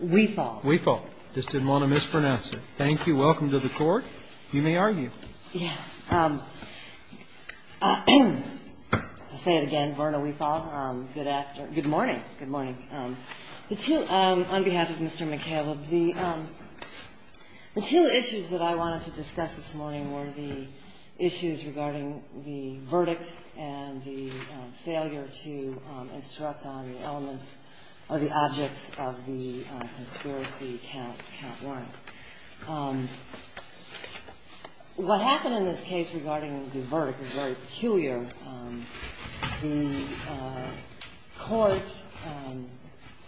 on behalf of Mr. McCaleb, the two issues that I wanted to discuss this morning were the conspiracy count warrant. What happened in this case regarding the verdict is very peculiar. The court,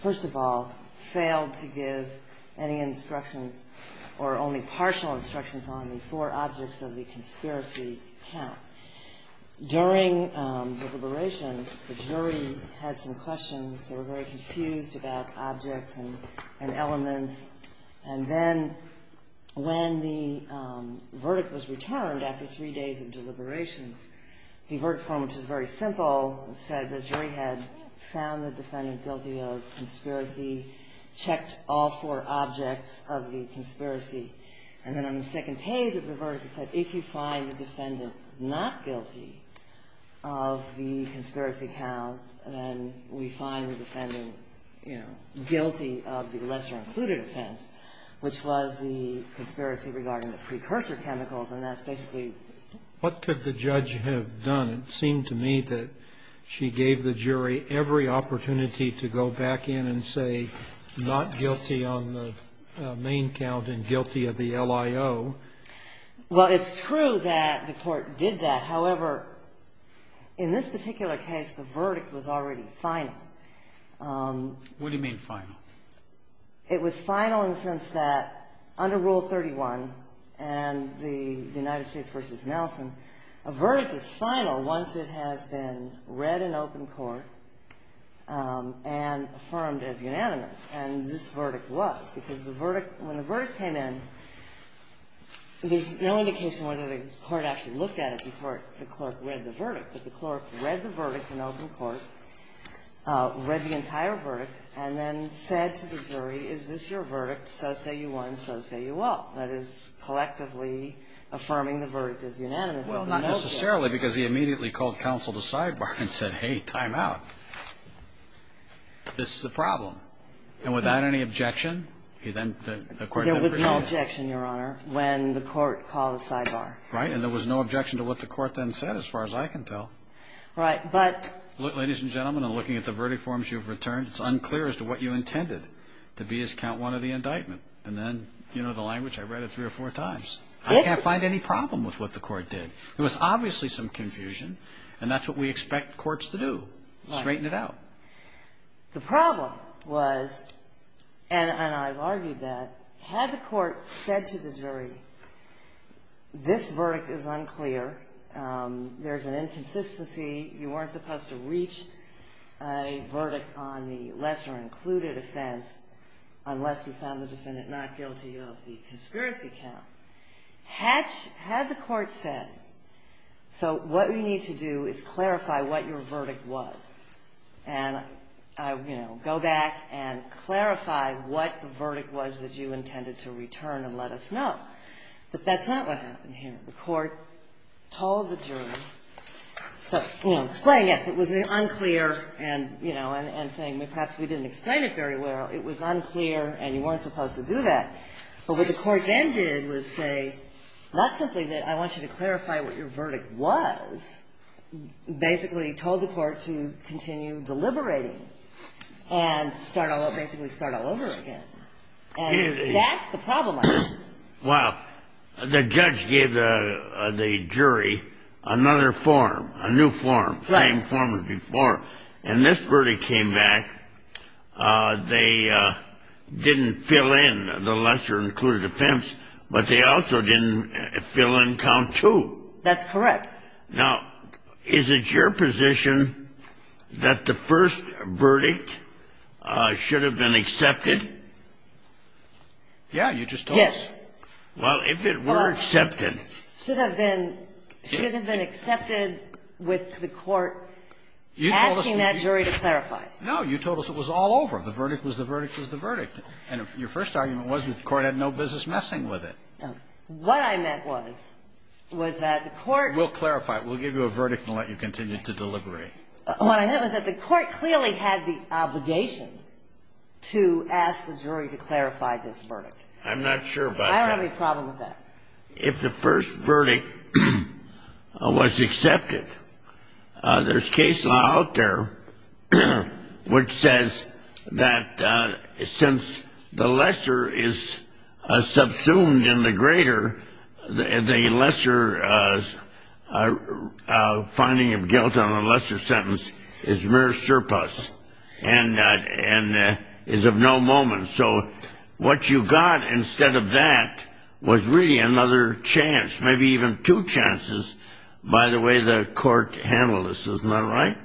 first of all, failed to give any instructions or only partial instructions on the four objects of the conspiracy count. During deliberations, the jury had some questions. They were very simple. It said the jury had found the defendant guilty of conspiracy, checked all four objects of the conspiracy. And then on the second page of the court's report, it said the jury had found the defendant guilty of the lesser-included offense, which was the conspiracy regarding the precursor chemicals. And that's basically what could the judge have done? It seemed to me that she gave the jury every opportunity to go back in and say not guilty on the main count and guilty of the LIO. Well, it's true that the court did that. However, in this particular case, the verdict was already final. What do you mean final? It was final in the sense that under Rule 31 and the United States v. Nelson, a verdict is final once it has been read in open court and affirmed as There's no indication whether the court actually looked at it before the clerk read the verdict, but the clerk read the verdict in open court, read the entire verdict, and then said to the jury, is this your verdict? So say you want, so say you won't. That is collectively affirming the verdict as unanimous. Well, not necessarily, because he immediately called counsel to sidebar and said, hey, time out. This is a problem. And without any objection, he then, according to the brief, There was no objection, Your Honor, when the court called a sidebar. Right, and there was no objection to what the court then said, as far as I can tell. Right, but Ladies and gentlemen, in looking at the verdict forms you've returned, it's unclear as to what you intended to be as count one of the indictment. And then, you know the language, I read it three or four times. I can't find any problem with what the court did. There was obviously some confusion, and that's what we expect courts to do, straighten it out. The problem was, and I've argued that, had the court said to the jury, this verdict is unclear, there's an inconsistency, you weren't supposed to reach a verdict on the lesser included offense unless you found the defendant not guilty of the conspiracy count. Had the court said, so what we need to do is clarify what your verdict was. And, you know, go back and clarify what the verdict was that you intended to return and let us know. But that's not what happened here. The court told the jury, so, you know, explaining, yes, it was unclear, and, you know, and saying, perhaps we didn't explain it very well. It was unclear, and you weren't supposed to do that. But what the court then did was say, not simply that I want you to clarify what your verdict was, basically told the court to continue deliberating and start all over, basically start all over again. And that's the problem I think. Well, the judge gave the jury another form, a new form, same form as before. And this verdict came back, they didn't fill in the lesser included offense, but they also didn't fill in count two. That's correct. Now, is it your position that the first verdict should have been accepted? Yeah, you just told us. Yes. Well, if it were accepted. Should have been, should have been accepted with the court asking that jury to clarify. No, you told us it was all over. The verdict was the verdict was the verdict. And your first argument was the court had no business messing with it. What I meant was, was that the court. We'll clarify it. We'll give you a verdict and let you continue to deliberate. What I meant was that the court clearly had the obligation to ask the jury to clarify this verdict. I'm not sure about that. I don't have any problem with that. If the first verdict was accepted, there's case law out there which says that since the lesser is subsumed in the greater, the lesser finding of guilt on a lesser sentence is mere surplus and is of no moment. So what you got instead of that was really another chance, maybe even two chances by the way the court handled this. Isn't that right?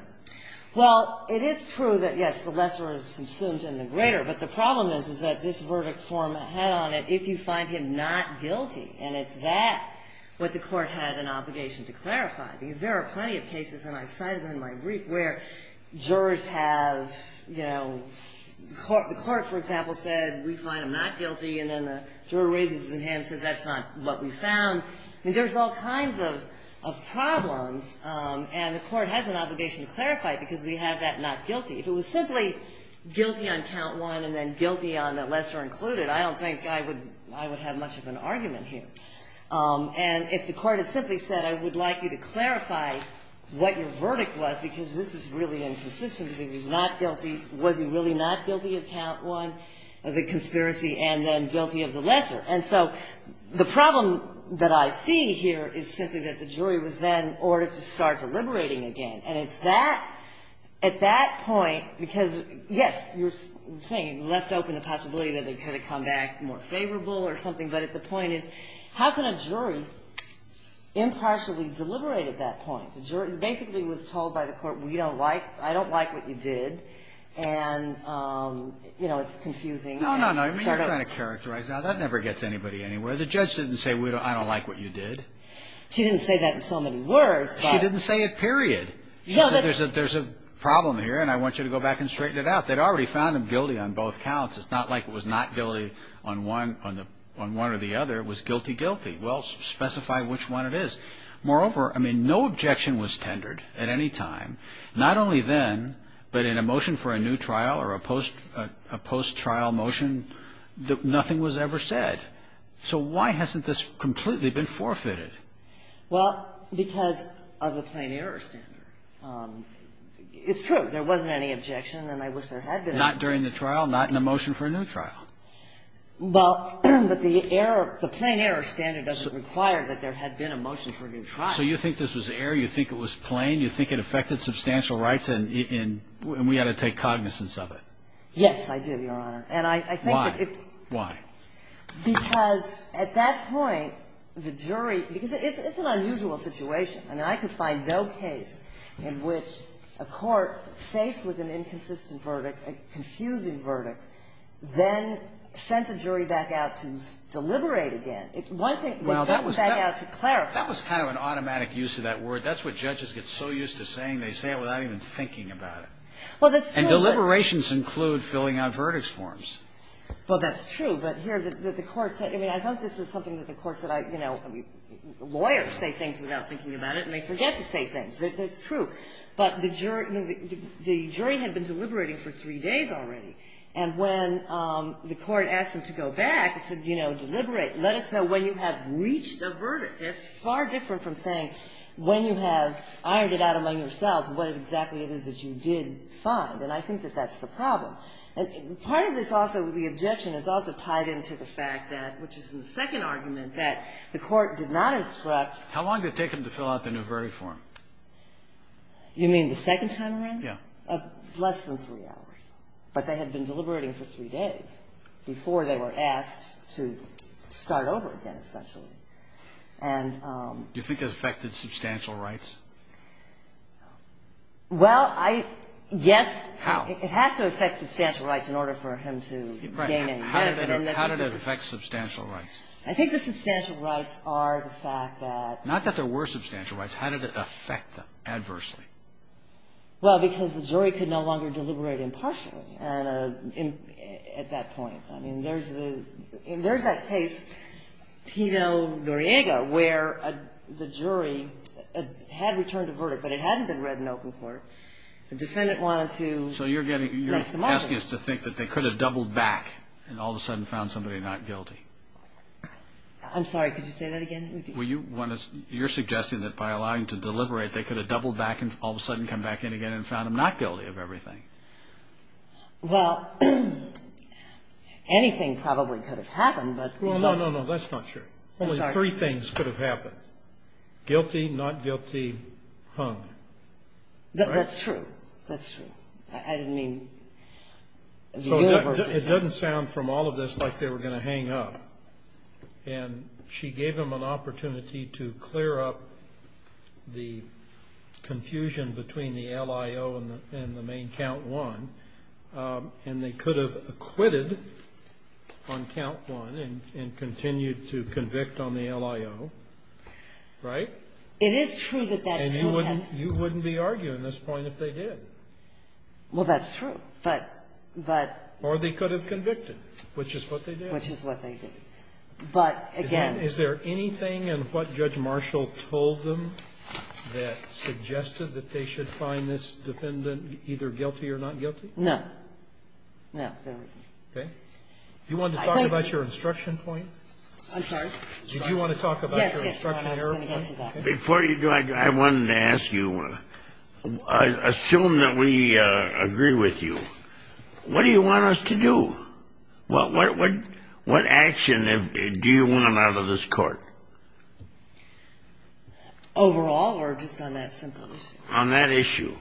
Well, it is true that, yes, the lesser is subsumed in the greater. But the problem is, is that this verdict form had on it if you find him not guilty. And it's that what the court had an obligation to clarify. Because there are plenty of cases, and I cited them in my brief, where jurors have, you know, the court, for example, said, we find him not guilty. And then the juror raises his hand and says, that's not what we found. I mean, there's all kinds of problems. And the court has an obligation to clarify it because we have that not guilty. If it was simply guilty on count one and then guilty on the lesser included, I don't think I would have much of an argument here. And if the court had simply said, I would like you to clarify what your verdict was, because this is really inconsistent. If he's not guilty, was he really not guilty on count one of the conspiracy and then guilty of the lesser? And so the problem that I see here is simply that the jury was then ordered to start deliberating again. And it's that, at that point, because, yes, you're saying it left open the possibility that it could have come back more favorable or something. But the point is, how can a jury impartially deliberate at that point? The jury basically was told by the court, we don't like, I don't like what you did. And, you know, it's confusing. No, no, no. I mean, you're trying to characterize. Now, that never gets anybody anywhere. The judge didn't say, I don't like what you did. She didn't say that in so many words. She didn't say it, period. She said, there's a problem here, and I want you to go back and straighten it out. They'd already found him guilty on both counts. It's not like it was not guilty on one or the other. It was guilty-guilty. Well, specify which one it is. Moreover, I mean, no objection was tendered at any time. Not only then, but in a motion for a new trial or a post-trial motion, nothing was ever said. So why hasn't this completely been forfeited? Well, because of the plain error standard. It's true. There wasn't any objection, and I wish there had been. Not during the trial? Not in a motion for a new trial? Well, but the error, the plain error standard doesn't require that there had been a motion for a new trial. So you think this was error? You think it was plain? You think it affected substantial rights, and we ought to take cognizance of it? Yes, I do, Your Honor. And I think that it Why? Why? Because at that point, the jury, because it's an unusual situation. I mean, I could find no case in which a court faced with an inconsistent verdict, a confusing verdict, then sent the jury back out to deliberate again. One thing was sent back out to clarify. Well, that was kind of an automatic use of that word. That's what judges get so used to saying. They say it without even thinking about it. Well, that's true. And deliberations include filling out verdicts forms. Well, that's true. But here, the court said, I mean, I thought this was something that the court said lawyers say things without thinking about it, and they forget to say things. That's true. But the jury had been deliberating for three days already. And when the court asked them to go back, it said, you know, deliberate. Let us know when you have reached a verdict. That's far different from saying when you have ironed it out among yourselves what exactly it is that you did find. And I think that that's the problem. Part of this also, the objection is also tied into the fact that, which is in the second argument, that the court did not instruct. How long did it take them to fill out the new verdict form? You mean the second time around? Yeah. Less than three hours. But they had been deliberating for three days before they were asked to start over again, essentially. And... Do you think it affected substantial rights? Well, I... Yes. How? It has to affect substantial rights in order for him to gain any credit. How did it affect substantial rights? I think the substantial rights are the fact that... Not that there were substantial rights. How did it affect them adversely? Well, because the jury could no longer deliberate impartially at that point. I mean, there's the... There's that case, Pino-Noriega, where the jury had returned a verdict, but it hadn't been read in open court. The defendant wanted to... So you're asking us to think that they could have doubled back and all of a sudden found somebody not guilty? I'm sorry, could you say that again? Well, you're suggesting that by allowing them to deliberate, they could have doubled back and all of a sudden come back in again and found them not guilty of everything. Well, anything probably could have happened, but... No, no, no, that's not true. Only three things could have happened. Guilty, not guilty, hung. That's true. That's true. I didn't mean... So it doesn't sound from all of this like they were going to hang up. And she gave them an opportunity to clear up the confusion between the LIO and the main Count I, and they could have acquitted on Count I and continued to convict on the LIO, right? It is true that that... And you wouldn't be arguing this point if they did. Well, that's true. But... Or they could have convicted, which is what they did. Which is what they did. But again... Is there anything in what Judge Marshall told them that suggested that they should find this defendant either guilty or not guilty? No. No, there isn't. Okay. Do you want to talk about your instruction point? I'm sorry? Did you want to talk about your instruction error point? Yes, yes. Let me get to that. Before you do, I wanted to ask you, assume that we agree with you. What do you want us to do? What action do you want out of this court? Overall or just on that simple issue? On that issue.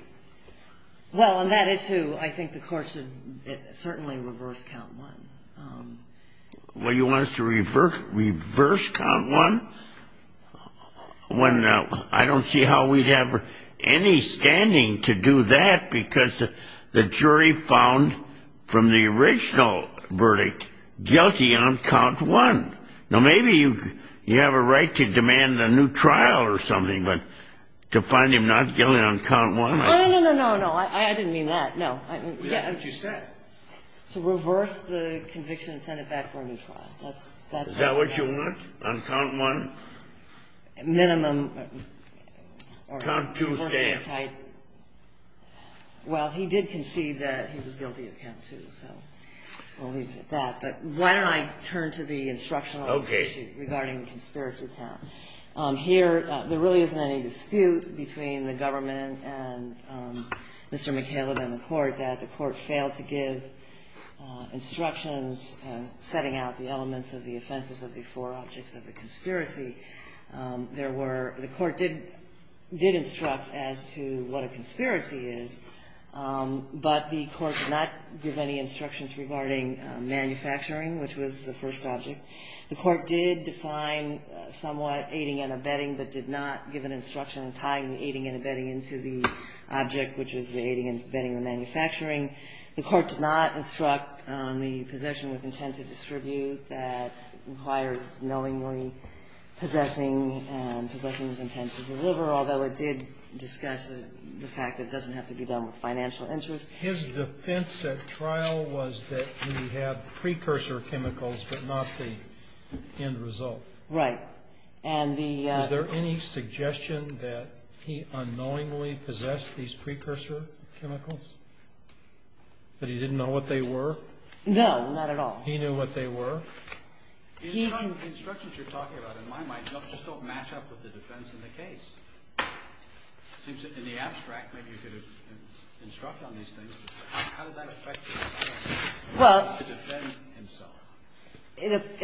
Well, on that issue, I think the court should certainly reverse Count I. Well, you want us to reverse Count I? I don't see how we'd have any standing to do that because the jury found from the original verdict guilty on Count I. Now, maybe you have a right to demand a new trial or something, but to find him not guilty on Count I? No, no, no, no, no. I didn't mean that. No. We have what you said. To reverse the conviction and send it back for a new trial. Is that what you want, on Count I? Minimum. Count II staff. Well, he did concede that he was guilty of Count II, so we'll leave it at that. But why don't I turn to the instructional issue regarding the conspiracy count. Here, there really isn't any dispute between the government and Mr. McCaleb and the court that the court failed to give instructions setting out the elements of the offenses of the four objects of the conspiracy. There were the court did instruct as to what a conspiracy is, but the court did not give any instructions regarding manufacturing, which was the first object. The court did define somewhat aiding and abetting, but did not give an instruction tying the aiding and abetting into the object, which is the aiding and abetting the manufacturing. The court did not instruct on the possession with intent to distribute that requires knowingly possessing and possessing with intent to deliver, although it did discuss the fact that it doesn't have to be done with financial interest. His defense at trial was that he had precursor chemicals, but not the end result. Right. And the... Was there any suggestion that he unknowingly possessed these precursor chemicals? That he didn't know what they were? No, not at all. He knew what they were? The instructions you're talking about, in my mind, just don't match up with the defense in the case. It seems that in the abstract, maybe you could have instructed on these things, but how did that affect his ability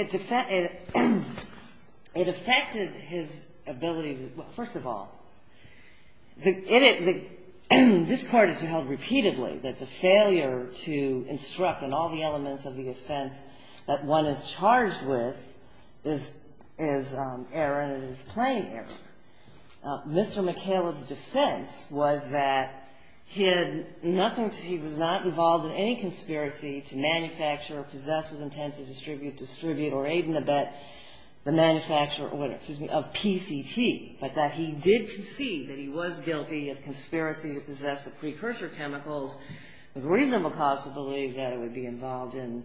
to defend himself? It affected his ability to... Well, first of all, this part is held repeatedly, that the failure to instruct and all the elements of the offense that one is charged with is error and is plain error. Mr. McCaleb's defense was that he was not involved in any conspiracy to manufacture or possess with intent to distribute or aid and abet the manufacture of PCP, but that he did concede that he was guilty of conspiracy to possess the precursor chemicals with reasonable cause to believe that it would be involved in...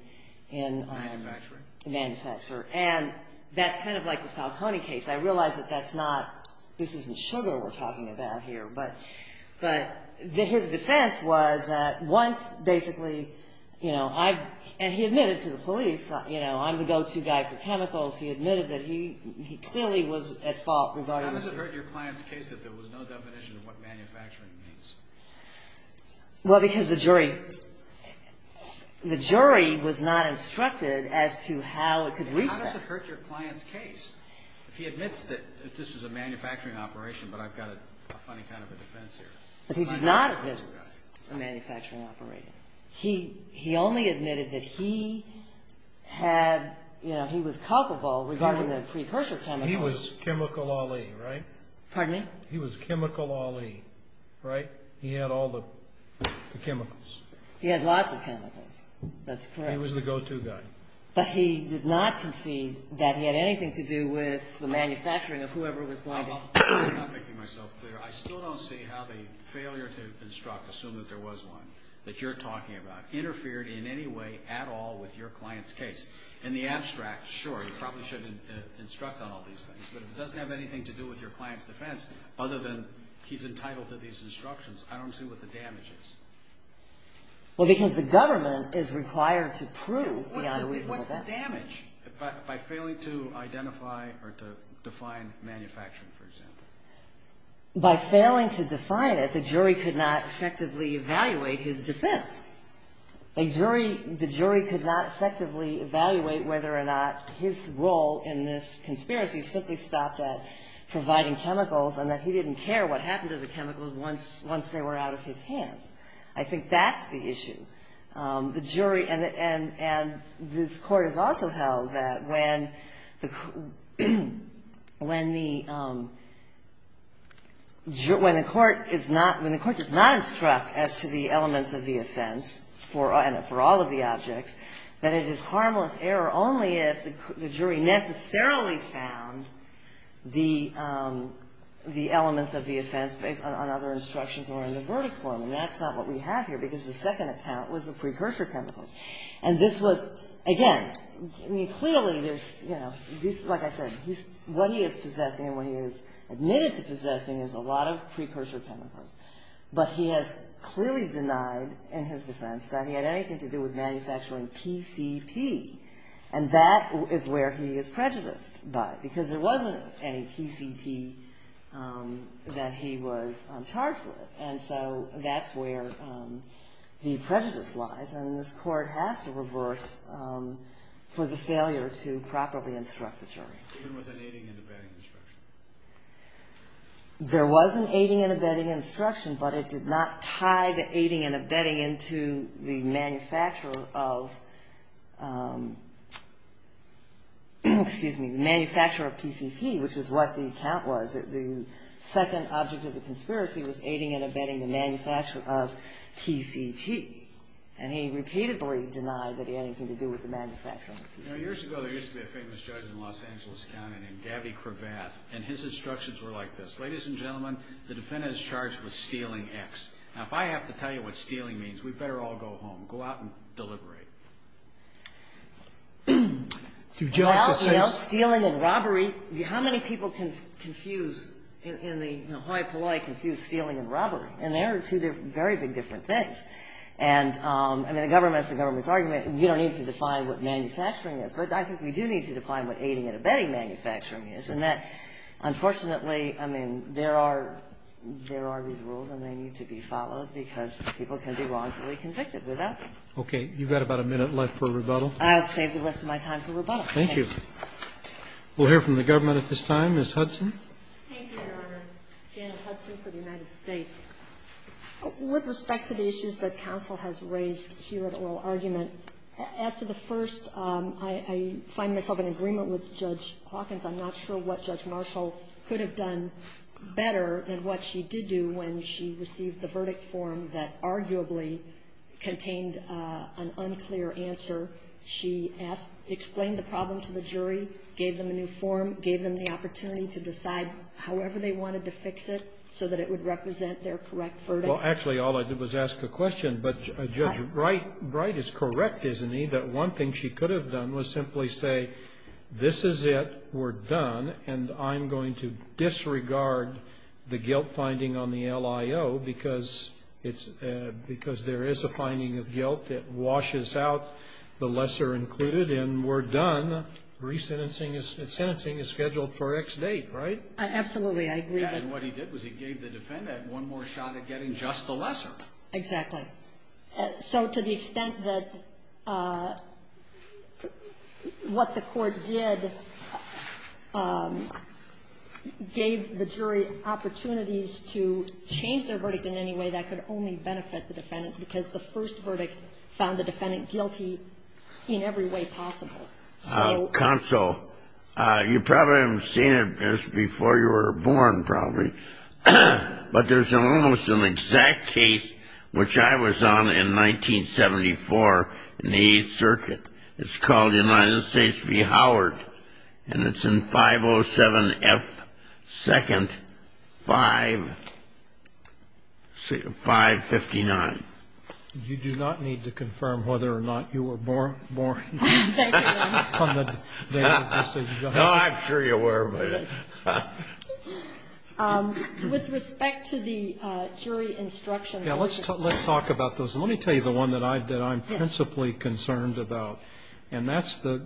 Manufacturing? Manufacture. And that's kind of like the Falcone case. I realize that that's not... This isn't sugar we're talking about here, but his defense was that once, basically, you know, and he admitted to the police, you know, I'm the go-to guy for chemicals. He admitted that he clearly was at fault regarding... How does it hurt your client's case that there was no definition of what manufacturing means? Well, because the jury was not instructed as to how it could reach that. How does it hurt your client's case if he admits that this was a manufacturing operation, but I've got a funny kind of a defense here? But he did not admit it was a manufacturing operation. He only admitted that he had, you know, he was culpable regarding the precursor chemicals. He was chemical Ali, right? Pardon me? He was chemical Ali, right? He had all the chemicals. He had lots of chemicals. That's correct. He was the go-to guy. But he did not concede that he had anything to do with the manufacturing of whoever was going to... I'm not making myself clear. I still don't see how the failure to instruct, assume that there was one that you're talking about, interfered in any way at all with your client's case. In the abstract, sure, you probably should instruct on all these things, but it doesn't have anything to do with your client's defense other than he's entitled to these instructions. I don't see what the damage is. Well, because the government is required to prove... What's the damage? By failing to identify or to define manufacturing, for example. By failing to define it, the jury could not effectively evaluate his defense. The jury could not effectively evaluate whether or not his role in this conspiracy simply stopped at providing chemicals and that he didn't care what happened to the chemicals once they were out of his hands. I think that's the issue. The jury and this Court has also held that when the Court does not instruct as to the elements of the offense for all of the objects, that it is harmless error only if the jury necessarily found the elements of the offense based on other instructions or in the verdict form, and that's not what we have here because the second account was the precursor chemicals. And this was, again, clearly there's... Like I said, what he is possessing and what he has admitted to possessing is a lot of precursor chemicals, but he has clearly denied in his defense that he had anything to do with manufacturing PCP, and that is where he is prejudiced by it because there wasn't any PCP that he was charged with. And so that's where the prejudice lies, and this Court has to reverse for the failure to properly instruct the jury. There wasn't aiding and abetting instruction. But it did not tie the aiding and abetting into the manufacturer of PCP, which is what the account was. The second object of the conspiracy was aiding and abetting the manufacturer of PCP, and he repeatedly denied that he had anything to do with the manufacturer of PCP. Years ago, there used to be a famous judge in Los Angeles County named Gabby Cravath, and his instructions were like this. Ladies and gentlemen, the defendant is charged with stealing X. Now, if I have to tell you what stealing means, we'd better all go home. Go out and deliberate. Well, you know, stealing and robbery, how many people can confuse, in the high polite, confuse stealing and robbery? And they are two very big different things. And, I mean, the government is the government's argument. You don't need to define what manufacturing is, but I think we do need to define what aiding and abetting manufacturing is, and that, unfortunately, I mean, there are these rules and they need to be followed because people can be wrongfully convicted with that. Okay. You've got about a minute left for rebuttal. I'll save the rest of my time for rebuttal. Thank you. We'll hear from the government at this time. Ms. Hudson. Thank you, Your Honor. Janet Hudson for the United States. With respect to the issues that counsel has raised here at oral argument, as to the first, I find myself in agreement with Judge Hawkins. I'm not sure what Judge Marshall could have done better than what she did do when she received the verdict form that arguably contained an unclear answer. She explained the problem to the jury, gave them a new form, gave them the opportunity to decide however they wanted to fix it so that it would represent their correct verdict. Well, actually, all I did was ask a question. But Judge Wright is correct, isn't he, that one thing she could have done was simply say, this is it, we're done, and I'm going to disregard the guilt finding on the LIO because there is a finding of guilt that washes out the lesser included, and we're done. Resentencing is scheduled for X date, right? Absolutely. And what he did was he gave the defendant one more shot at getting just the lesser. Exactly. So to the extent that what the court did gave the jury opportunities to change their verdict in any way that could only benefit the defendant because the first verdict found the defendant guilty in every way possible. Counsel, you probably haven't seen it before you were born, probably, but there's almost an exact case which I was on in 1974 in the Eighth Circuit. It's called United States v. Howard, and it's in 507 F. 2nd, 559. You do not need to confirm whether or not you were born on the day of the decision. No, I'm sure you were. With respect to the jury instruction. Yeah, let's talk about those. Let me tell you the one that I'm principally concerned about, and that's the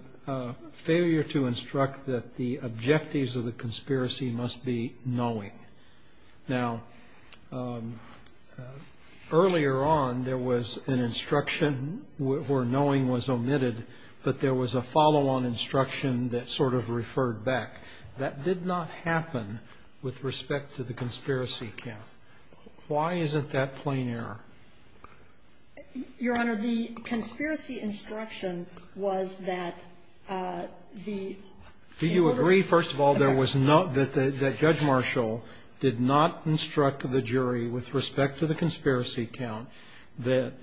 failure to instruct that the objectives of the conspiracy must be knowing. Now, earlier on there was an instruction where knowing was omitted, but there was a follow-on instruction that sort of referred back. That did not happen with respect to the conspiracy count. Why isn't that plain error? Your Honor, the conspiracy instruction was that the Taylor. Do you agree, first of all, that Judge Marshall did not instruct the jury with respect to the conspiracy count that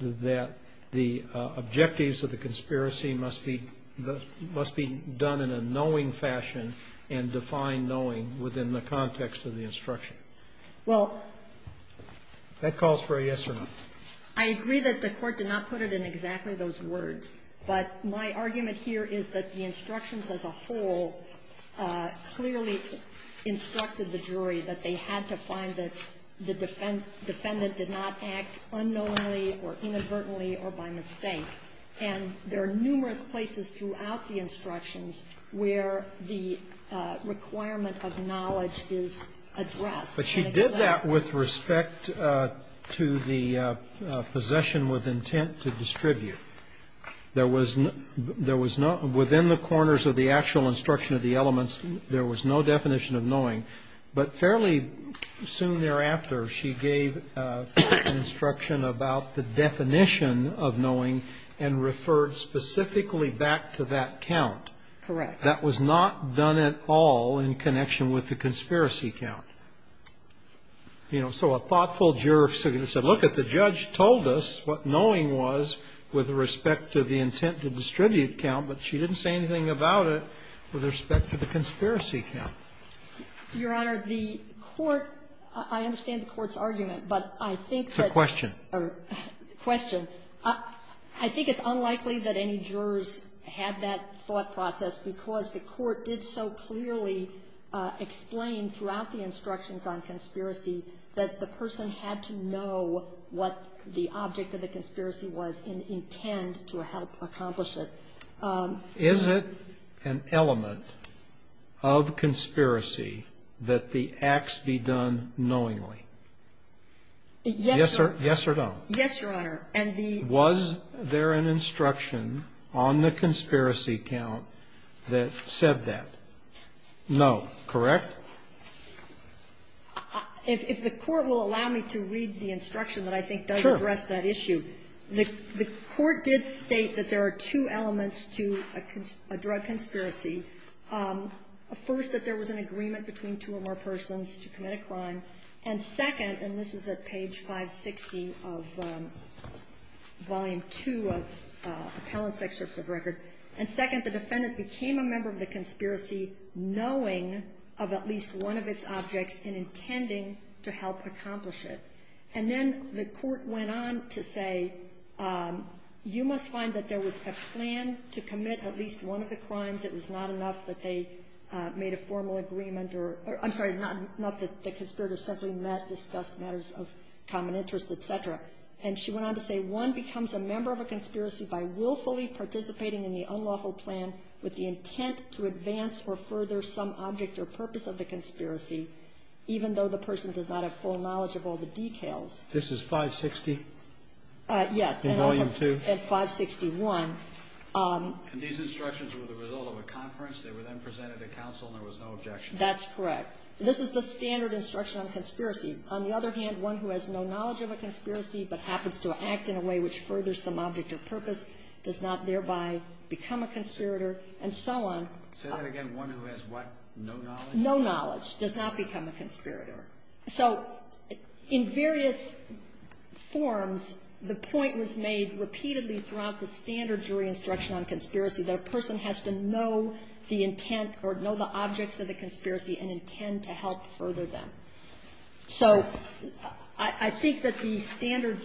the objectives of the conspiracy must be done in a knowing fashion and define knowing within the context of the instruction? Well. That calls for a yes or no. I agree that the Court did not put it in exactly those words, but my argument here is that the instructions as a whole clearly instructed the jury that they had to find that the defendant did not act unknowingly or inadvertently or by mistake. And there are numerous places throughout the instructions where the requirement of knowledge is addressed. But she did that with respect to the possession with intent to distribute. There was no – within the corners of the actual instruction of the elements, there was no definition of knowing. But fairly soon thereafter, she gave an instruction about the definition of knowing and referred specifically back to that count. Correct. That was not done at all in connection with the conspiracy count. You know, so a thoughtful jury said, look, the judge told us what knowing was with respect to the intent to distribute count, but she didn't say anything about it with respect to the conspiracy count. Your Honor, the Court – I understand the Court's argument, but I think that – It's a question. A question. I think it's unlikely that any jurors had that thought process because the Court did so clearly explain throughout the instructions on conspiracy that the person had to know what the object of the conspiracy was and intend to help accomplish Is it an element of conspiracy that the acts be done knowingly? Yes or no? Yes, Your Honor. And the – Was there an instruction on the conspiracy count that said that? No. Correct? If the Court will allow me to read the instruction that I think does address that issue. The Court did state that there are two elements to a drug conspiracy. First, that there was an agreement between two or more persons to commit a crime, and second – and this is at page 560 of Volume 2 of Appellant's Excerpts of Record – and second, the defendant became a member of the conspiracy knowing of at least one of its objects and intending to help accomplish it. And then the Court went on to say, you must find that there was a plan to commit at least one of the crimes. It was not enough that they made a formal agreement or – I'm sorry, not that the conspirators simply met, discussed matters of common interest, et cetera. And she went on to say, one becomes a member of a conspiracy by willfully participating in the unlawful plan with the intent to advance or further some object or purpose of the conspiracy, even though the person does not have full knowledge of all the details. This is 560? Yes. In Volume 2? And 561. And these instructions were the result of a conference. They were then presented to counsel and there was no objection. That's correct. This is the standard instruction on conspiracy. On the other hand, one who has no knowledge of a conspiracy but happens to act in a way which furthers some object or purpose does not thereby become a conspirator and so on. Say that again. One who has what? No knowledge? No knowledge, does not become a conspirator. So in various forms, the point was made repeatedly throughout the standard jury instruction on conspiracy that a person has to know the intent or know the objects of the conspiracy and intend to help further them. So I think that the standard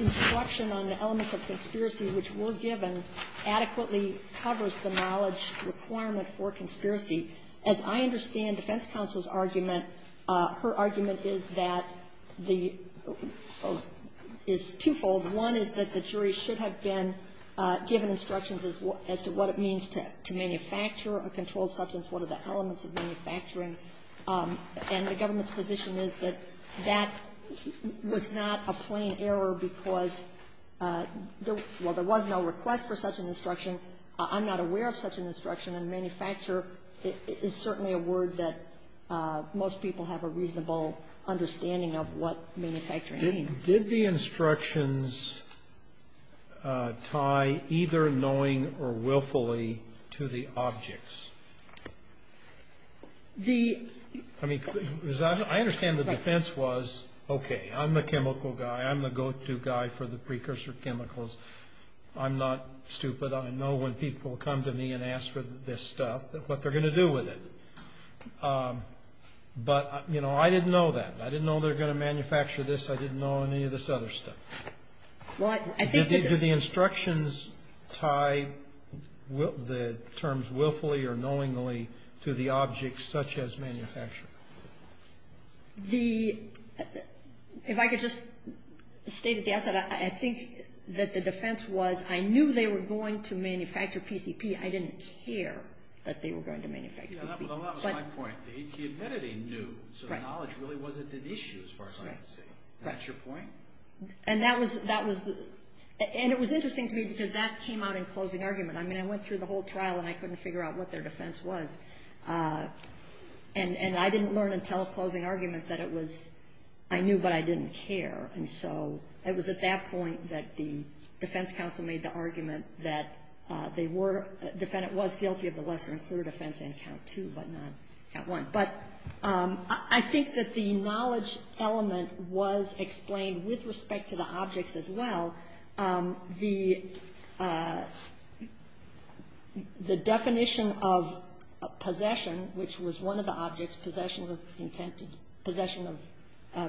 instruction on the elements of conspiracy which were given adequately covers the knowledge requirement for conspiracy. As I understand defense counsel's argument, her argument is that the – is twofold. One is that the jury should have been given instructions as to what it means to manufacture a controlled substance, what are the elements of manufacturing. And the government's position is that that was not a plain error because while there was no request for such an instruction, I'm not aware of such an instruction and manufacture is certainly a word that most people have a reasonable understanding of what manufacturing means. Did the instructions tie either knowing or willfully to the objects? The – I mean, I understand the defense was, okay, I'm the chemical guy. I'm the go-to guy for the precursor chemicals. I'm not stupid. I know when people come to me and ask for this stuff what they're going to do with it. But, you know, I didn't know that. I didn't know they were going to manufacture this. I didn't know any of this other stuff. Do the instructions tie the terms willfully or knowingly to the objects such as manufacturing? The – if I could just state at the outset, I think that the defense was I knew they were going to manufacture PCP. I didn't care that they were going to manufacture PCP. Well, that was my point. He admitted he knew, so the knowledge really wasn't an issue as far as I can see. That's your point? And that was – and it was interesting to me because that came out in closing argument. I mean, I went through the whole trial and I couldn't figure out what their defense was. And I didn't learn until a closing argument that it was – I knew but I didn't care. And so it was at that point that the defense counsel made the argument that they were – the defendant was guilty of the lesser and clearer offense in count two but not count one. But I think that the knowledge element was explained with respect to the objects as well. The definition of possession, which was one of the objects, possession of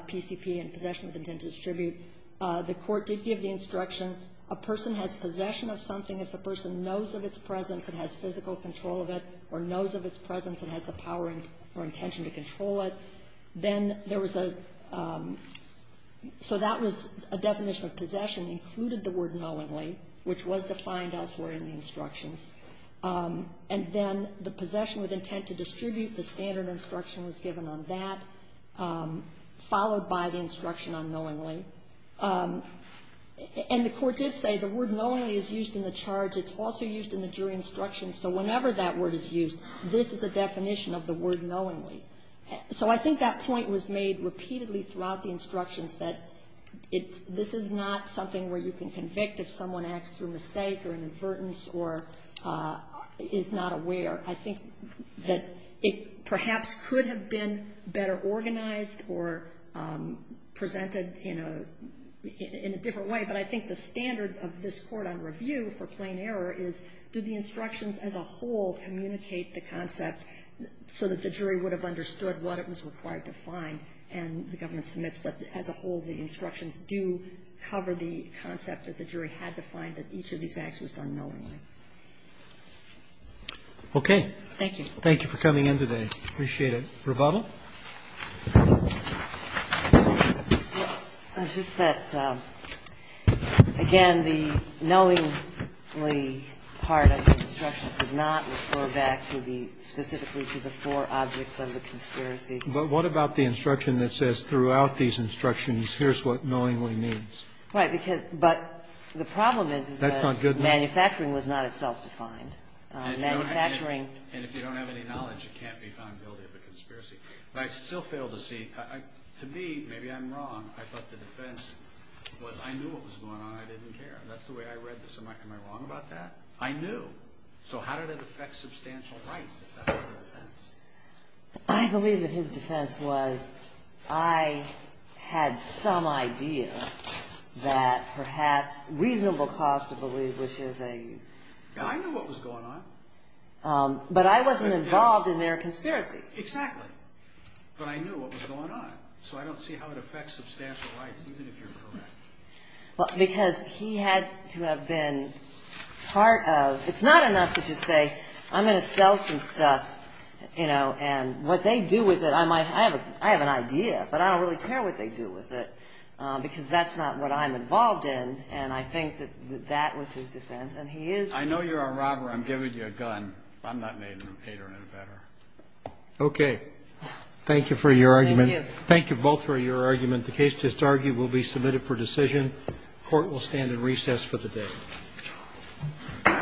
PCP and possession of intent to distribute, the court did give the instruction a person has possession of something if the person knows of its presence and has physical control of it or knows of its presence and has the power or intention to control it. Then there was a – so that was a definition of possession included the word knowingly, which was defined elsewhere in the instructions. And then the possession with intent to distribute, the standard instruction was given on that, followed by the instruction on knowingly. And the court did say the word knowingly is used in the charge. It's also used in the jury instructions. So whenever that word is used, this is a definition of the word knowingly. So I think that point was made repeatedly throughout the instructions that this is not something where you can convict if someone acts through mistake or an avertance or is not aware. I think that it perhaps could have been better organized or presented in a different way, but I think the standard of this court on review for plain error is do the instructions as a whole communicate the concept so that the jury would have understood what it was required to find, and the government submits that as a whole the instructions do cover the concept that the jury had to find that each of these acts was done knowingly. Okay. Thank you. Thank you for coming in today. Appreciate it. Rebubble. It's just that, again, the knowingly part of the instructions did not refer back to the ñ specifically to the four objects of the conspiracy. But what about the instruction that says throughout these instructions, here's what knowingly means? Because ñ but the problem is, is that ñ That's not good enough. Manufacturing was not itself defined. Manufacturing ñ And if you don't have any knowledge, you can't be found guilty of a conspiracy. But I still fail to see ñ to me, maybe I'm wrong, I thought the defense was, I knew what was going on, I didn't care. That's the way I read this. Am I wrong about that? I knew. So how did it affect substantial rights if that was the defense? I believe that his defense was, I had some idea that perhaps reasonable cause to believe, which is a ñ I knew what was going on. But I wasn't involved in their conspiracy. Exactly. But I knew what was going on. So I don't see how it affects substantial rights, even if you're correct. Because he had to have been part of ñ it's not enough to just say, I'm going to sell some stuff, you know, and what they do with it, I might ñ I have an idea, but I don't really care what they do with it, because that's not what I'm involved in. And I think that that was his defense. And he is ñ I know you're a robber. I'm giving you a gun. I'm not made of any better. Okay. Thank you for your argument. Thank you. Thank you both for your argument. The case just argued will be submitted for decision. Court will stand in recess for the day.